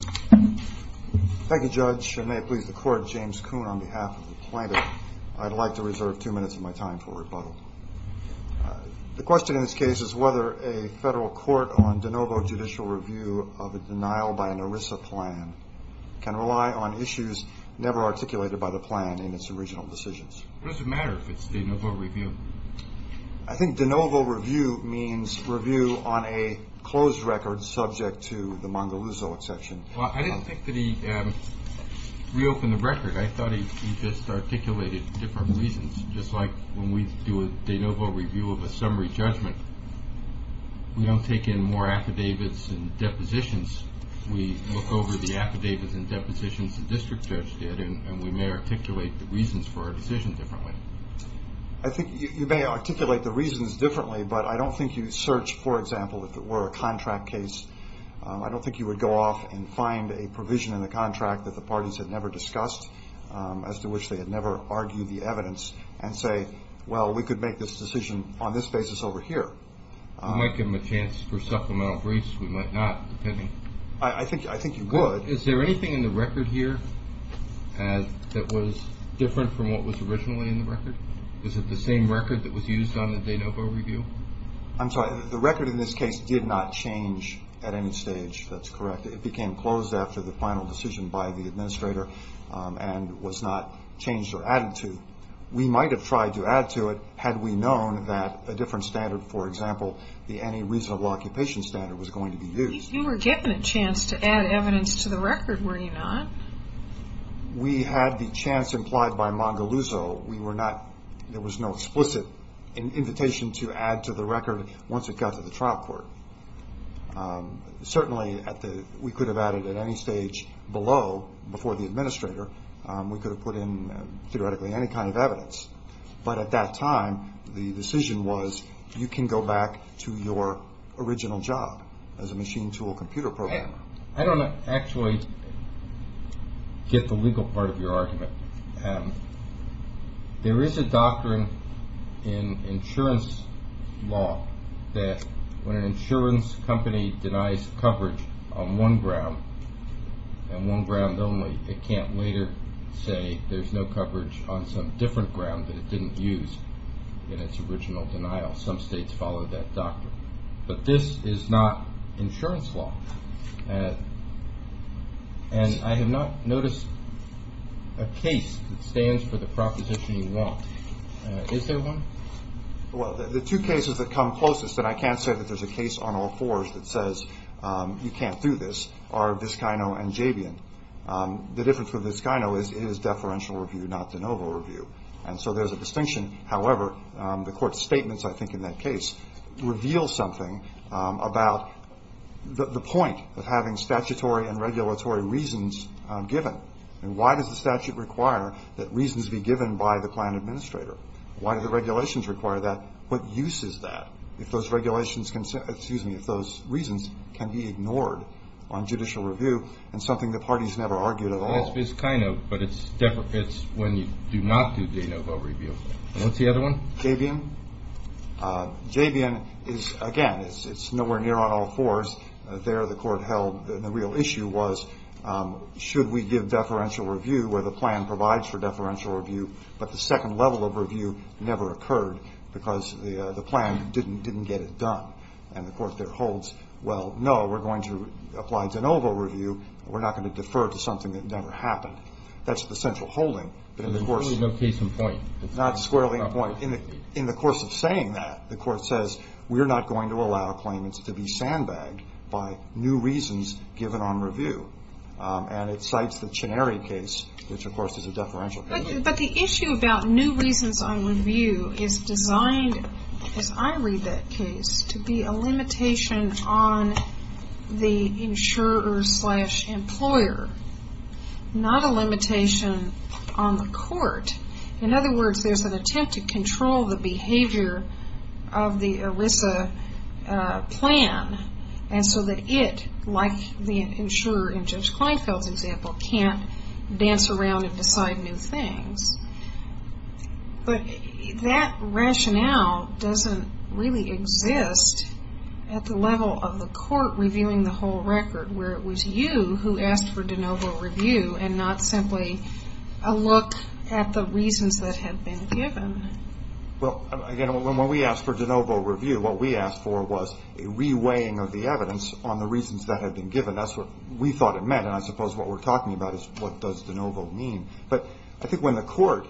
Thank you, Judge, and may it please the Court, James Kuhn, on behalf of the plaintiff, I'd like to reserve two minutes of my time for rebuttal. The question in this case is whether a federal court on de novo judicial review of a denial by an ERISA plan can rely on issues never articulated by the plan in its original decisions. What does it matter if it's de novo review? I think de novo review means review on a closed record subject to the Mongalozo exception. Well, I didn't think that he reopened the record. I thought he just articulated different reasons. Just like when we do a de novo review of a summary judgment, we don't take in more affidavits and depositions. We look over the affidavits and depositions the district judge did, and we may articulate the reasons for our decision differently. I think you may articulate the reasons differently, but I don't think you search, for example, if it were a contract case. I don't think you would go off and find a provision in the contract that the parties had never discussed, as to which they had never argued the evidence, and say, well, we could make this decision on this basis over here. We might give them a chance for supplemental briefs. We might not, depending. I think you would. Well, is there anything in the record here that was different from what was originally in the record? Is it the same record that was used on the de novo review? I'm sorry. The record in this case did not change at any stage. That's correct. It became closed after the final decision by the administrator and was not changed or added to. We might have tried to add to it had we known that a different standard, for example, the anti-reasonable occupation standard, was going to be used. You were given a chance to add evidence to the record, were you not? We had the chance implied by Mangaluzzo. There was no explicit invitation to add to the record once it got to the trial court. Certainly, we could have added at any stage below, before the administrator. We could have put in, theoretically, any kind of evidence. But at that time, the decision was you can go back to your original job as a machine tool computer programmer. I don't actually get the legal part of your argument. There is a doctrine in insurance law that when an insurance company denies coverage on one ground, and one ground only, it can't later say there's no coverage on some different ground that it didn't use in its original denial. Some states follow that doctrine. But this is not insurance law. And I have not noticed a case that stands for the proposition you want. Is there one? Well, the two cases that come closest, and I can't say that there's a case on all fours that says you can't do this, are Vizcaino and Jabian. The difference with Vizcaino is it is deferential review, not de novo review. And so there's a distinction. However, the court's statements, I think, in that case, reveal something about the point of having statutory and regulatory reasons given. And why does the statute require that reasons be given by the client administrator? Why do the regulations require that? What use is that if those reasons can be ignored on judicial review and something the parties never argued at all? It's Vizcaino, but it's deprecates when you do not do de novo review. What's the other one? Jabian. Jabian is, again, it's nowhere near on all fours. There the court held the real issue was should we give deferential review where the plan provides for deferential review, but the second level of review never occurred because the plan didn't get it done. And the court there holds, well, no, we're going to apply de novo review. We're not going to defer to something that never happened. That's the central holding. But in the course of saying that, the court says we're not going to allow claimants to be sandbagged by new reasons given on review. And it cites the Cineri case, which, of course, is a deferential case. But the issue about new reasons on review is designed, as I read that case, to be a limitation on the insurer-slash-employer, not a limitation on the court. In other words, there's an attempt to control the behavior of the ERISA plan, and so that it, like the insurer in Judge Kleinfeld's example, can't dance around and decide new things. But that rationale doesn't really exist at the level of the court reviewing the whole record, where it was you who asked for de novo review and not simply a look at the reasons that had been given. Well, again, when we asked for de novo review, what we asked for was a reweighing of the evidence on the reasons that had been given. That's what we thought it meant, and I suppose what we're talking about is what does de novo mean. But I think when the court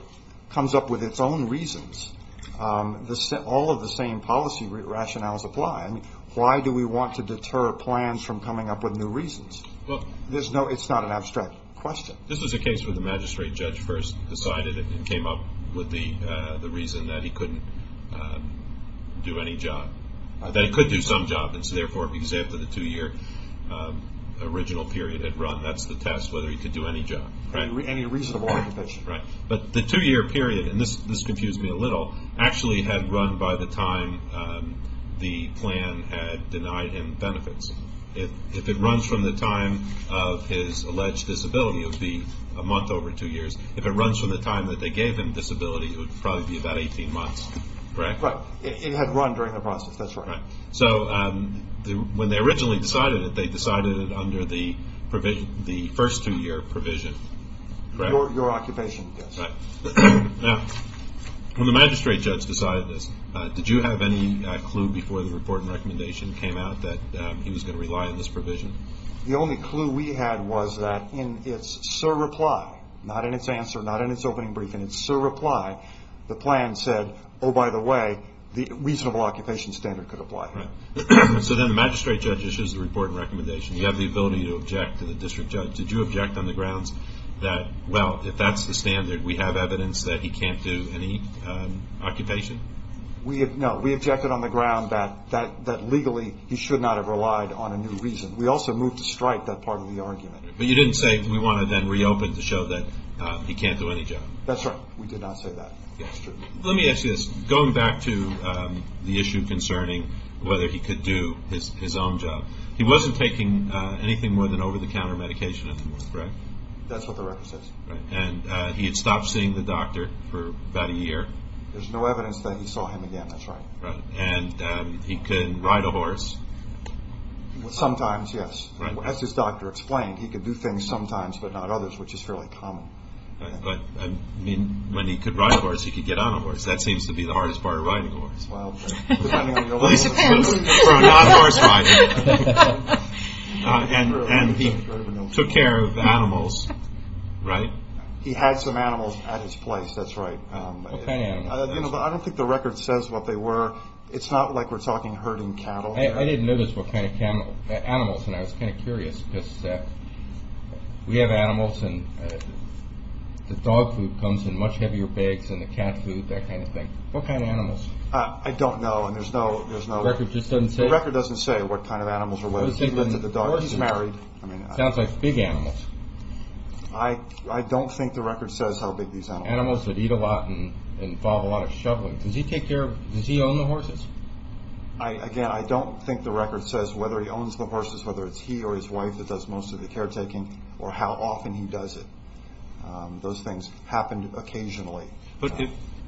comes up with its own reasons, all of the same policy rationales apply. Why do we want to deter plans from coming up with new reasons? It's not an abstract question. This was a case where the magistrate judge first decided and came up with the reason that he couldn't do any job, that he could do some job, and so therefore, because after the two-year original period had run, that's the test, whether he could do any job. Any reasonable arbitration. Right, but the two-year period, and this confused me a little, actually had run by the time the plan had denied him benefits. If it runs from the time of his alleged disability, it would be a month over two years. If it runs from the time that they gave him disability, it would probably be about 18 months, correct? Right, it had run during the process, that's right. So when they originally decided it, they decided it under the first two-year provision, correct? Your occupation, yes. Right. Now, when the magistrate judge decided this, did you have any clue before the report and recommendation came out that he was going to rely on this provision? The only clue we had was that in its surreply, not in its answer, not in its opening brief, in its surreply, the plan said, oh, by the way, the reasonable occupation standard could apply here. So then the magistrate judge issues the report and recommendation. You have the ability to object to the district judge. Did you object on the grounds that, well, if that's the standard, we have evidence that he can't do any occupation? No. We objected on the ground that legally he should not have relied on a new reason. We also moved to strike that part of the argument. But you didn't say we want to then reopen to show that he can't do any job. That's right. We did not say that. That's true. Let me ask you this. Going back to the issue concerning whether he could do his own job, he wasn't taking anything more than over-the-counter medication, correct? That's what the record says. Right. And he had stopped seeing the doctor for about a year. There's no evidence that he saw him again. That's right. And he could ride a horse. Sometimes, yes. As his doctor explained, he could do things sometimes but not others, which is fairly common. But, I mean, when he could ride a horse, he could get on a horse. That seems to be the hardest part of riding a horse. Well, he depends. So not horse riding. And he took care of animals, right? He had some animals at his place. That's right. What kind of animals? I don't think the record says what they were. It's not like we're talking herding cattle here. I didn't notice what kind of animals. And I was kind of curious because we have animals and the dog food comes in much heavier bags than the cat food, that kind of thing. What kind of animals? I don't know, and there's no record. The record just doesn't say? The record doesn't say what kind of animals or whether he lived with the dog or he's married. It sounds like big animals. I don't think the record says how big these animals are. Animals that eat a lot and follow a lot of shoveling. Does he own the horses? Again, I don't think the record says whether he owns the horses, whether it's he or his wife that does most of the caretaking, or how often he does it. Those things happen occasionally. But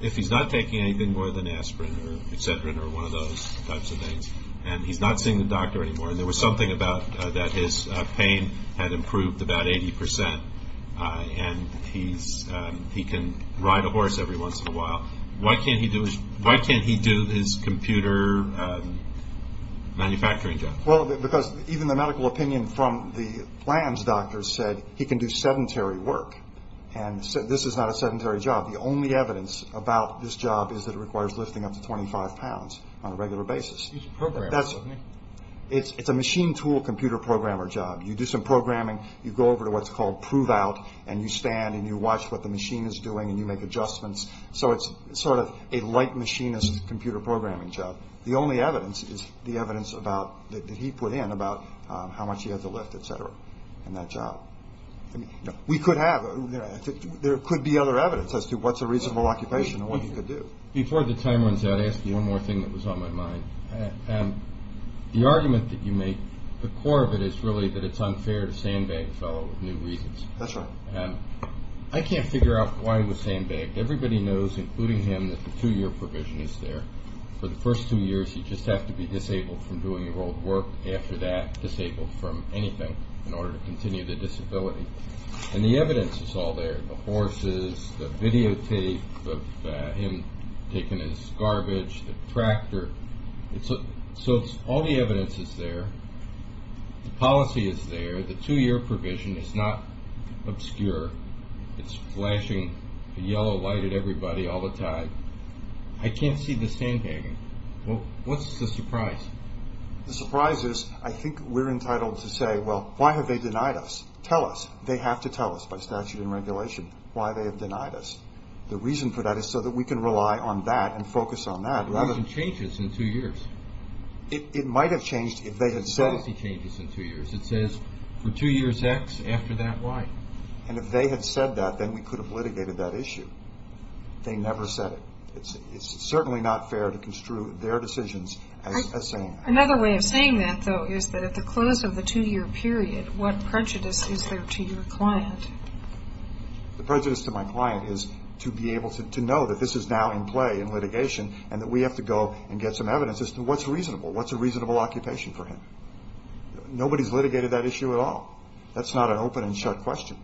if he's not taking anything more than aspirin or Excedrin or one of those types of things and he's not seeing the doctor anymore, and there was something about that his pain had improved about 80 percent and he can ride a horse every once in a while, why can't he do his computer manufacturing job? Well, because even the medical opinion from the plans doctor said he can do sedentary work. And this is not a sedentary job. The only evidence about this job is that it requires lifting up to 25 pounds on a regular basis. He's a programmer, isn't he? It's a machine tool computer programmer job. You do some programming, you go over to what's called prove out, and you stand and you watch what the machine is doing and you make adjustments. So it's sort of a light machinist computer programming job. The only evidence is the evidence that he put in about how much he had to lift, et cetera, in that job. We could have. There could be other evidence as to what's a reasonable occupation and what you could do. Before the time runs out, I'll ask you one more thing that was on my mind. The argument that you make, the core of it is really that it's unfair to sandbag a fellow with new reasons. That's right. I can't figure out why he was sandbagged. Everybody knows, including him, that the two-year provision is there. For the first two years, you just have to be disabled from doing your old work. After that, disabled from anything in order to continue the disability. And the evidence is all there. The horses, the videotape of him taking his garbage, the tractor. So all the evidence is there. The policy is there. The two-year provision is not obscure. It's flashing a yellow light at everybody all the time. I can't see the sandbagging. What's the surprise? The surprise is I think we're entitled to say, well, why have they denied us? Tell us. They have to tell us by statute and regulation why they have denied us. The reason for that is so that we can rely on that and focus on that. The provision changes in two years. It might have changed if they had said it. The policy changes in two years. It says for two years X, after that Y. And if they had said that, then we could have litigated that issue. They never said it. It's certainly not fair to construe their decisions as saying that. Another way of saying that, though, is that at the close of the two-year period, what prejudice is there to your client? The prejudice to my client is to be able to know that this is now in play in litigation and that we have to go and get some evidence as to what's reasonable, what's a reasonable occupation for him. Nobody's litigated that issue at all. That's not an open and shut question.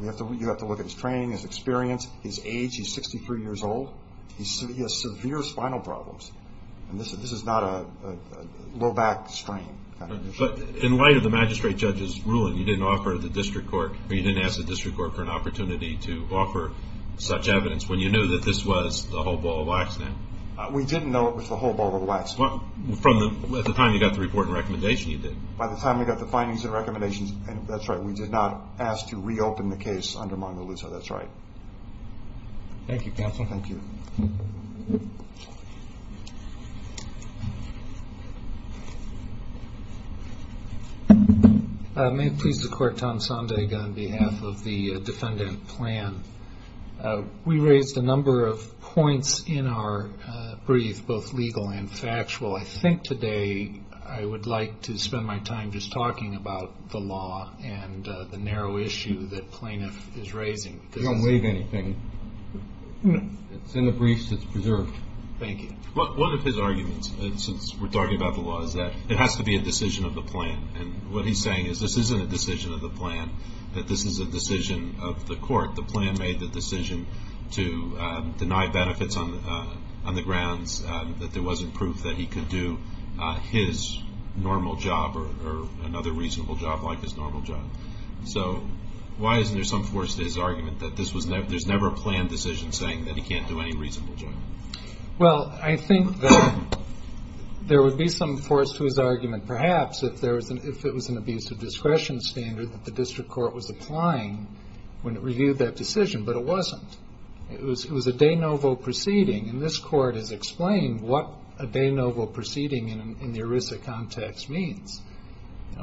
You have to look at his training, his experience, his age. He's 63 years old. He has severe spinal problems. And this is not a low-back strain kind of issue. But in light of the magistrate judge's ruling, you didn't ask the district court for an opportunity to offer such evidence when you knew that this was the whole ball of wax, then? We didn't know it was the whole ball of wax. At the time you got the report and recommendation, you did. By the time we got the findings and recommendations, that's right, we did not ask to reopen the case under Mongo Luzo. That's right. Thank you, counsel. Thank you. May it please the Court, Tom Sondag on behalf of the defendant plan. We raised a number of points in our brief, both legal and factual. I think today I would like to spend my time just talking about the law and the narrow issue that plaintiff is raising. Don't leave anything. It's in the briefs. It's preserved. Thank you. One of his arguments, since we're talking about the law, is that it has to be a decision of the plan. And what he's saying is this isn't a decision of the plan, that this is a decision of the court. The plan made the decision to deny benefits on the grounds that there wasn't proof that he could do his normal job or another reasonable job like his normal job. So why isn't there some force to his argument that there's never a planned decision saying that he can't do any reasonable job? Well, I think there would be some force to his argument, perhaps, if it was an abuse of discretion standard that the district court was applying when it reviewed that decision, but it wasn't. It was a de novo proceeding, and this court has explained what a de novo proceeding in the ERISA context means.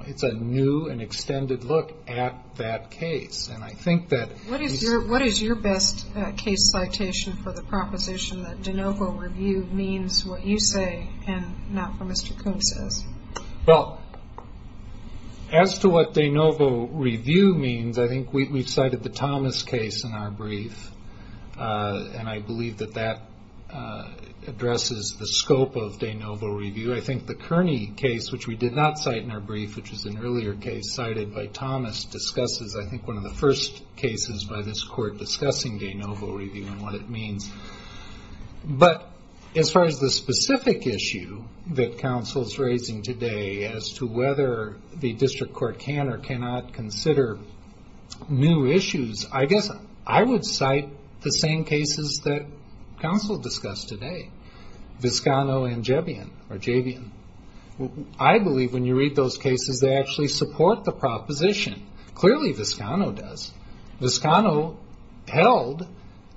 It's a new and extended look at that case. What is your best case citation for the proposition that de novo review means what you say and not what Mr. Coombs says? Well, as to what de novo review means, I think we've cited the Thomas case in our brief, and I believe that that addresses the scope of de novo review. I think the Kearney case, which we did not cite in our brief, which was an earlier case cited by Thomas, discusses, I think, one of the first cases by this court discussing de novo review and what it means. But as far as the specific issue that counsel is raising today as to whether the district court can or cannot consider new issues, I guess I would cite the same cases that counsel discussed today, Viscano and Jebian. I believe when you read those cases, they actually support the proposition. Clearly, Viscano does. Viscano held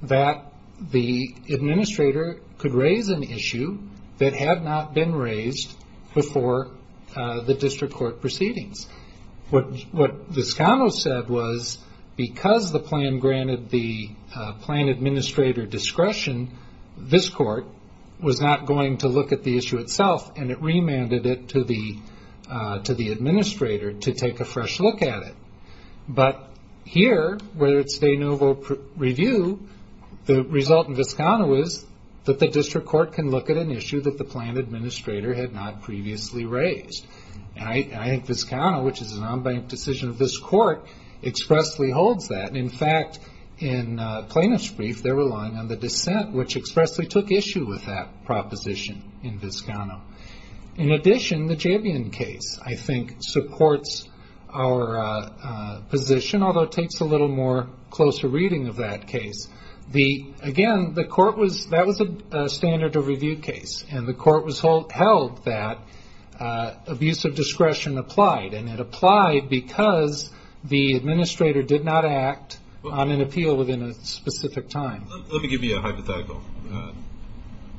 that the administrator could raise an issue that had not been raised before the district court proceedings. What Viscano said was because the plan granted the plan administrator discretion, this court was not going to look at the issue itself, and it remanded it to the administrator to take a fresh look at it. But here, where it's de novo review, the result in Viscano is that the district court can look at an issue that the plan administrator had not previously raised. I think Viscano, which is an unbanked decision of this court, expressly holds that. In fact, in plaintiff's brief, they're relying on the dissent, which expressly took issue with that proposition in Viscano. In addition, the Jebian case, I think, supports our position, although it takes a little more closer reading of that case. Again, that was a standard of review case, and the court held that abuse of discretion applied, and it applied because the administrator did not act on an appeal within a specific time. Let me give you a hypothetical.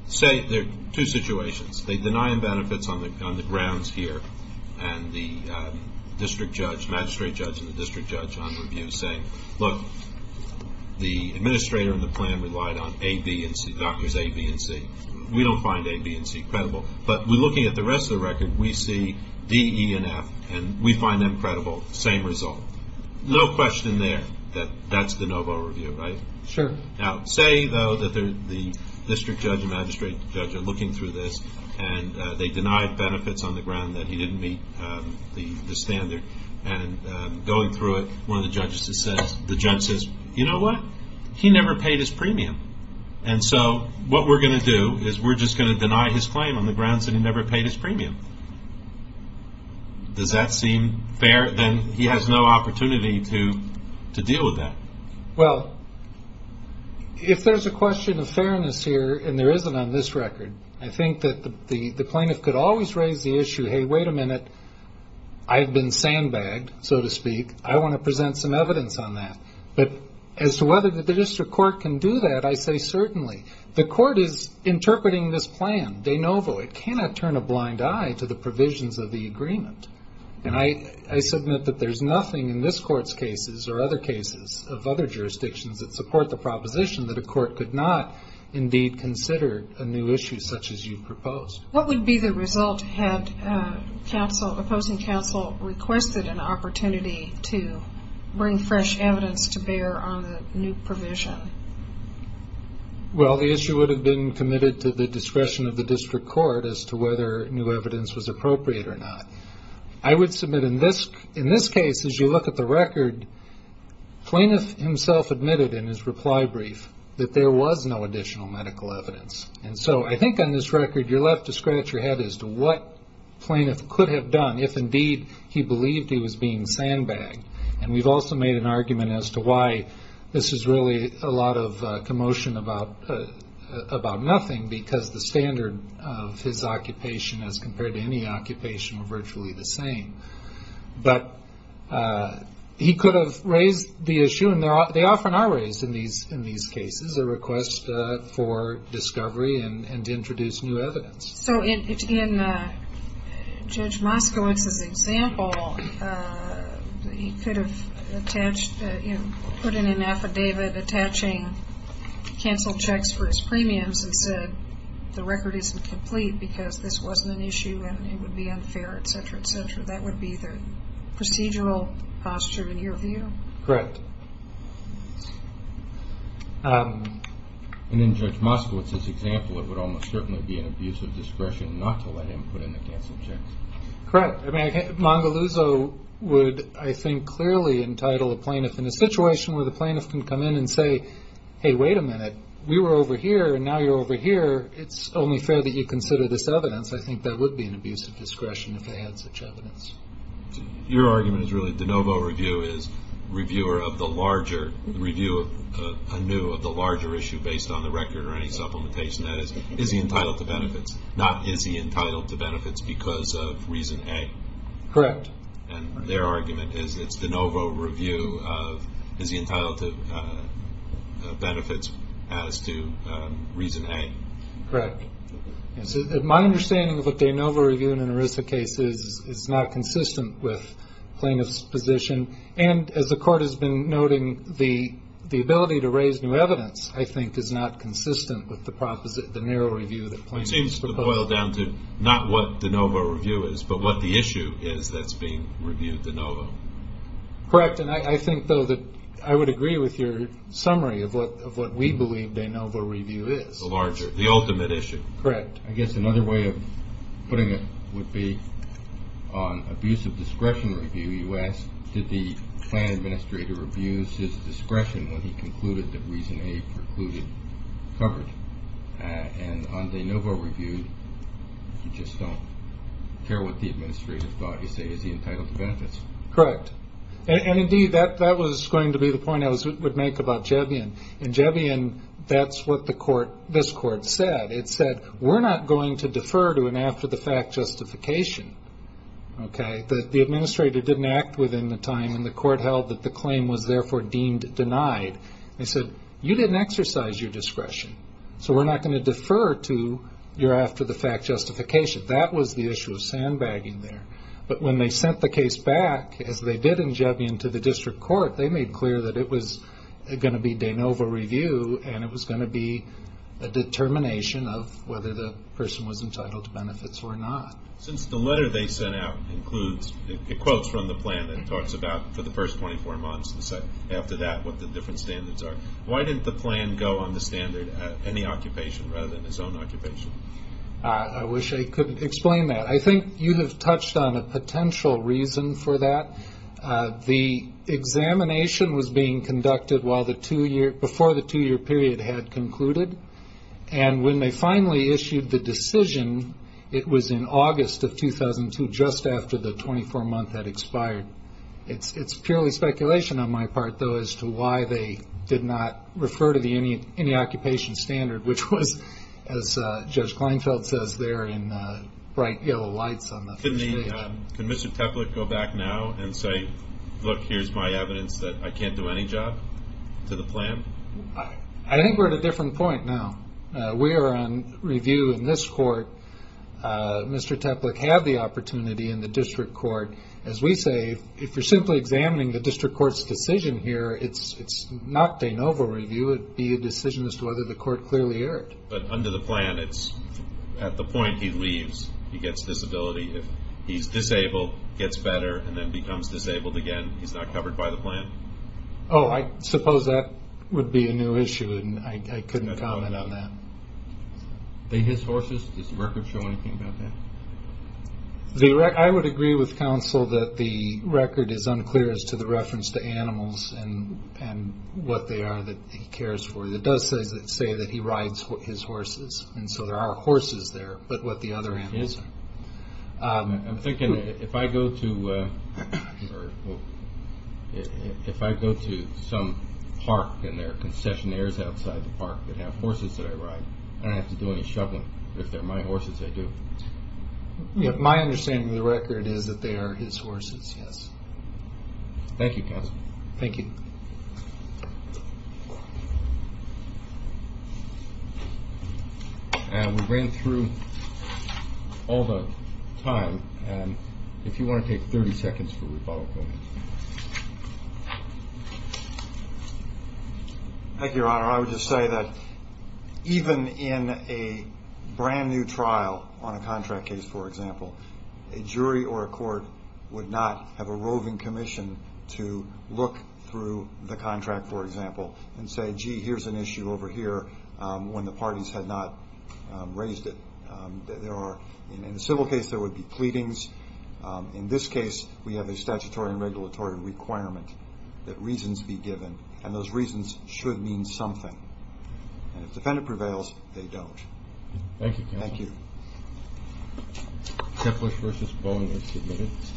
Say there are two situations. They deny him benefits on the grounds here, and the district judge, magistrate judge, and the district judge on review say, look, the administrator in the plan relied on A, B, and C, doctors A, B, and C. We don't find A, B, and C credible, but we're looking at the rest of the record. We see D, E, and F, and we find them credible, same result. No question there that that's the no vote review, right? Sure. Now, say, though, that the district judge and magistrate judge are looking through this, and they deny benefits on the ground that he didn't meet the standard, and going through it, one of the judges says, you know what, he never paid his premium, and so what we're going to do is we're just going to deny his claim on the grounds that he never paid his premium. Does that seem fair? Then he has no opportunity to deal with that. Well, if there's a question of fairness here, and there isn't on this record, I think that the plaintiff could always raise the issue, hey, wait a minute, I've been sandbagged, so to speak. I want to present some evidence on that. But as to whether the district court can do that, I say certainly. The court is interpreting this plan de novo. It cannot turn a blind eye to the provisions of the agreement. And I submit that there's nothing in this court's cases or other cases of other jurisdictions that support the proposition that a court could not indeed consider a new issue such as you proposed. What would be the result had opposing counsel requested an opportunity to bring fresh evidence to bear on the new provision? Well, the issue would have been committed to the discretion of the district court as to whether new evidence was appropriate or not. I would submit in this case, as you look at the record, plaintiff himself admitted in his reply brief that there was no additional medical evidence. And so I think on this record you're left to scratch your head as to what plaintiff could have done if indeed he believed he was being sandbagged. And we've also made an argument as to why this is really a lot of commotion about nothing, because the standard of his occupation as compared to any occupation were virtually the same. But he could have raised the issue, and they often are raised in these cases, a request for discovery and to introduce new evidence. So in Judge Moskowitz's example, he could have put in an affidavit attaching canceled checks for his premiums and said the record isn't complete because this wasn't an issue and it would be unfair, etc., etc. That would be the procedural posture in your view? Correct. And in Judge Moskowitz's example, it would almost certainly be an abuse of discretion not to let him put in the canceled checks. Correct. I mean, Mangaluzzo would, I think, clearly entitle a plaintiff in a situation where the plaintiff can come in and say, hey, wait a minute, we were over here and now you're over here, it's only fair that you consider this evidence. I think that would be an abuse of discretion if they had such evidence. Your argument is really de novo review is review of the larger issue based on the record or any supplementation, that is, is he entitled to benefits, not is he entitled to benefits because of reason A. Correct. And their argument is it's de novo review of is he entitled to benefits as to reason A. Correct. My understanding of a de novo review in an ERISA case is it's not consistent with plaintiff's position. And as the Court has been noting, the ability to raise new evidence, I think, is not consistent with the narrow review that plaintiffs propose. It seems to boil down to not what de novo review is but what the issue is that's being reviewed de novo. Correct. And I think, though, that I would agree with your summary of what we believe de novo review is. The larger, the ultimate issue. Correct. I guess another way of putting it would be on abuse of discretion review, you asked did the plan administrator abuse his discretion when he concluded that reason A precluded coverage. And on de novo review, you just don't care what the administrator thought. You say is he entitled to benefits. Correct. And, indeed, that was going to be the point I would make about Jevian. In Jevian, that's what this Court said. It said we're not going to defer to an after-the-fact justification. Okay? The administrator didn't act within the time, and the Court held that the claim was, therefore, deemed denied. They said you didn't exercise your discretion, so we're not going to defer to your after-the-fact justification. That was the issue of sandbagging there. But when they sent the case back, as they did in Jevian to the District Court, they made clear that it was going to be de novo review, and it was going to be a determination of whether the person was entitled to benefits or not. Since the letter they sent out includes quotes from the plan that it talks about for the first 24 months, and after that what the different standards are, why didn't the plan go on the standard at any occupation rather than his own occupation? I wish I could explain that. I think you have touched on a potential reason for that. The examination was being conducted before the two-year period had concluded, and when they finally issued the decision, it was in August of 2002, just after the 24-month had expired. It's purely speculation on my part, though, as to why they did not refer to the any-occupation standard, which was, as Judge Kleinfeld says there in bright yellow lights on the first page. Could Mr. Teplick go back now and say, look, here's my evidence that I can't do any job to the plan? I think we're at a different point now. We are on review in this court. Mr. Teplick had the opportunity in the District Court. As we say, if you're simply examining the District Court's decision here, it's not de novo review. It would be a decision as to whether the court clearly heard. But under the plan, at the point he leaves, he gets disability. If he's disabled, gets better, and then becomes disabled again, he's not covered by the plan? I suppose that would be a new issue, and I couldn't comment on that. His horses, does the record show anything about that? I would agree with counsel that the record is unclear as to the reference to animals and what they are that he cares for. It does say that he rides his horses, and so there are horses there, but what the other animals are. I'm thinking that if I go to some park and there are concessionaires outside the park that have horses that I ride, I don't have to do any shoveling. If they're my horses, I do. My understanding of the record is that they are his horses, yes. Thank you, counsel. Thank you. We ran through all the time, and if you want to take 30 seconds for rebuttal, go ahead. Thank you, Your Honor. I would just say that even in a brand-new trial on a contract case, for example, a jury or a court would not have a roving commission to look through the contract, for example, and say, gee, here's an issue over here when the parties had not raised it. In a civil case, there would be pleadings. In this case, we have a statutory and regulatory requirement that reasons be given, and those reasons should mean something, and if the defendant prevails, they don't. Thank you, counsel. Thank you. Tepler v. Bowen, 90 minutes.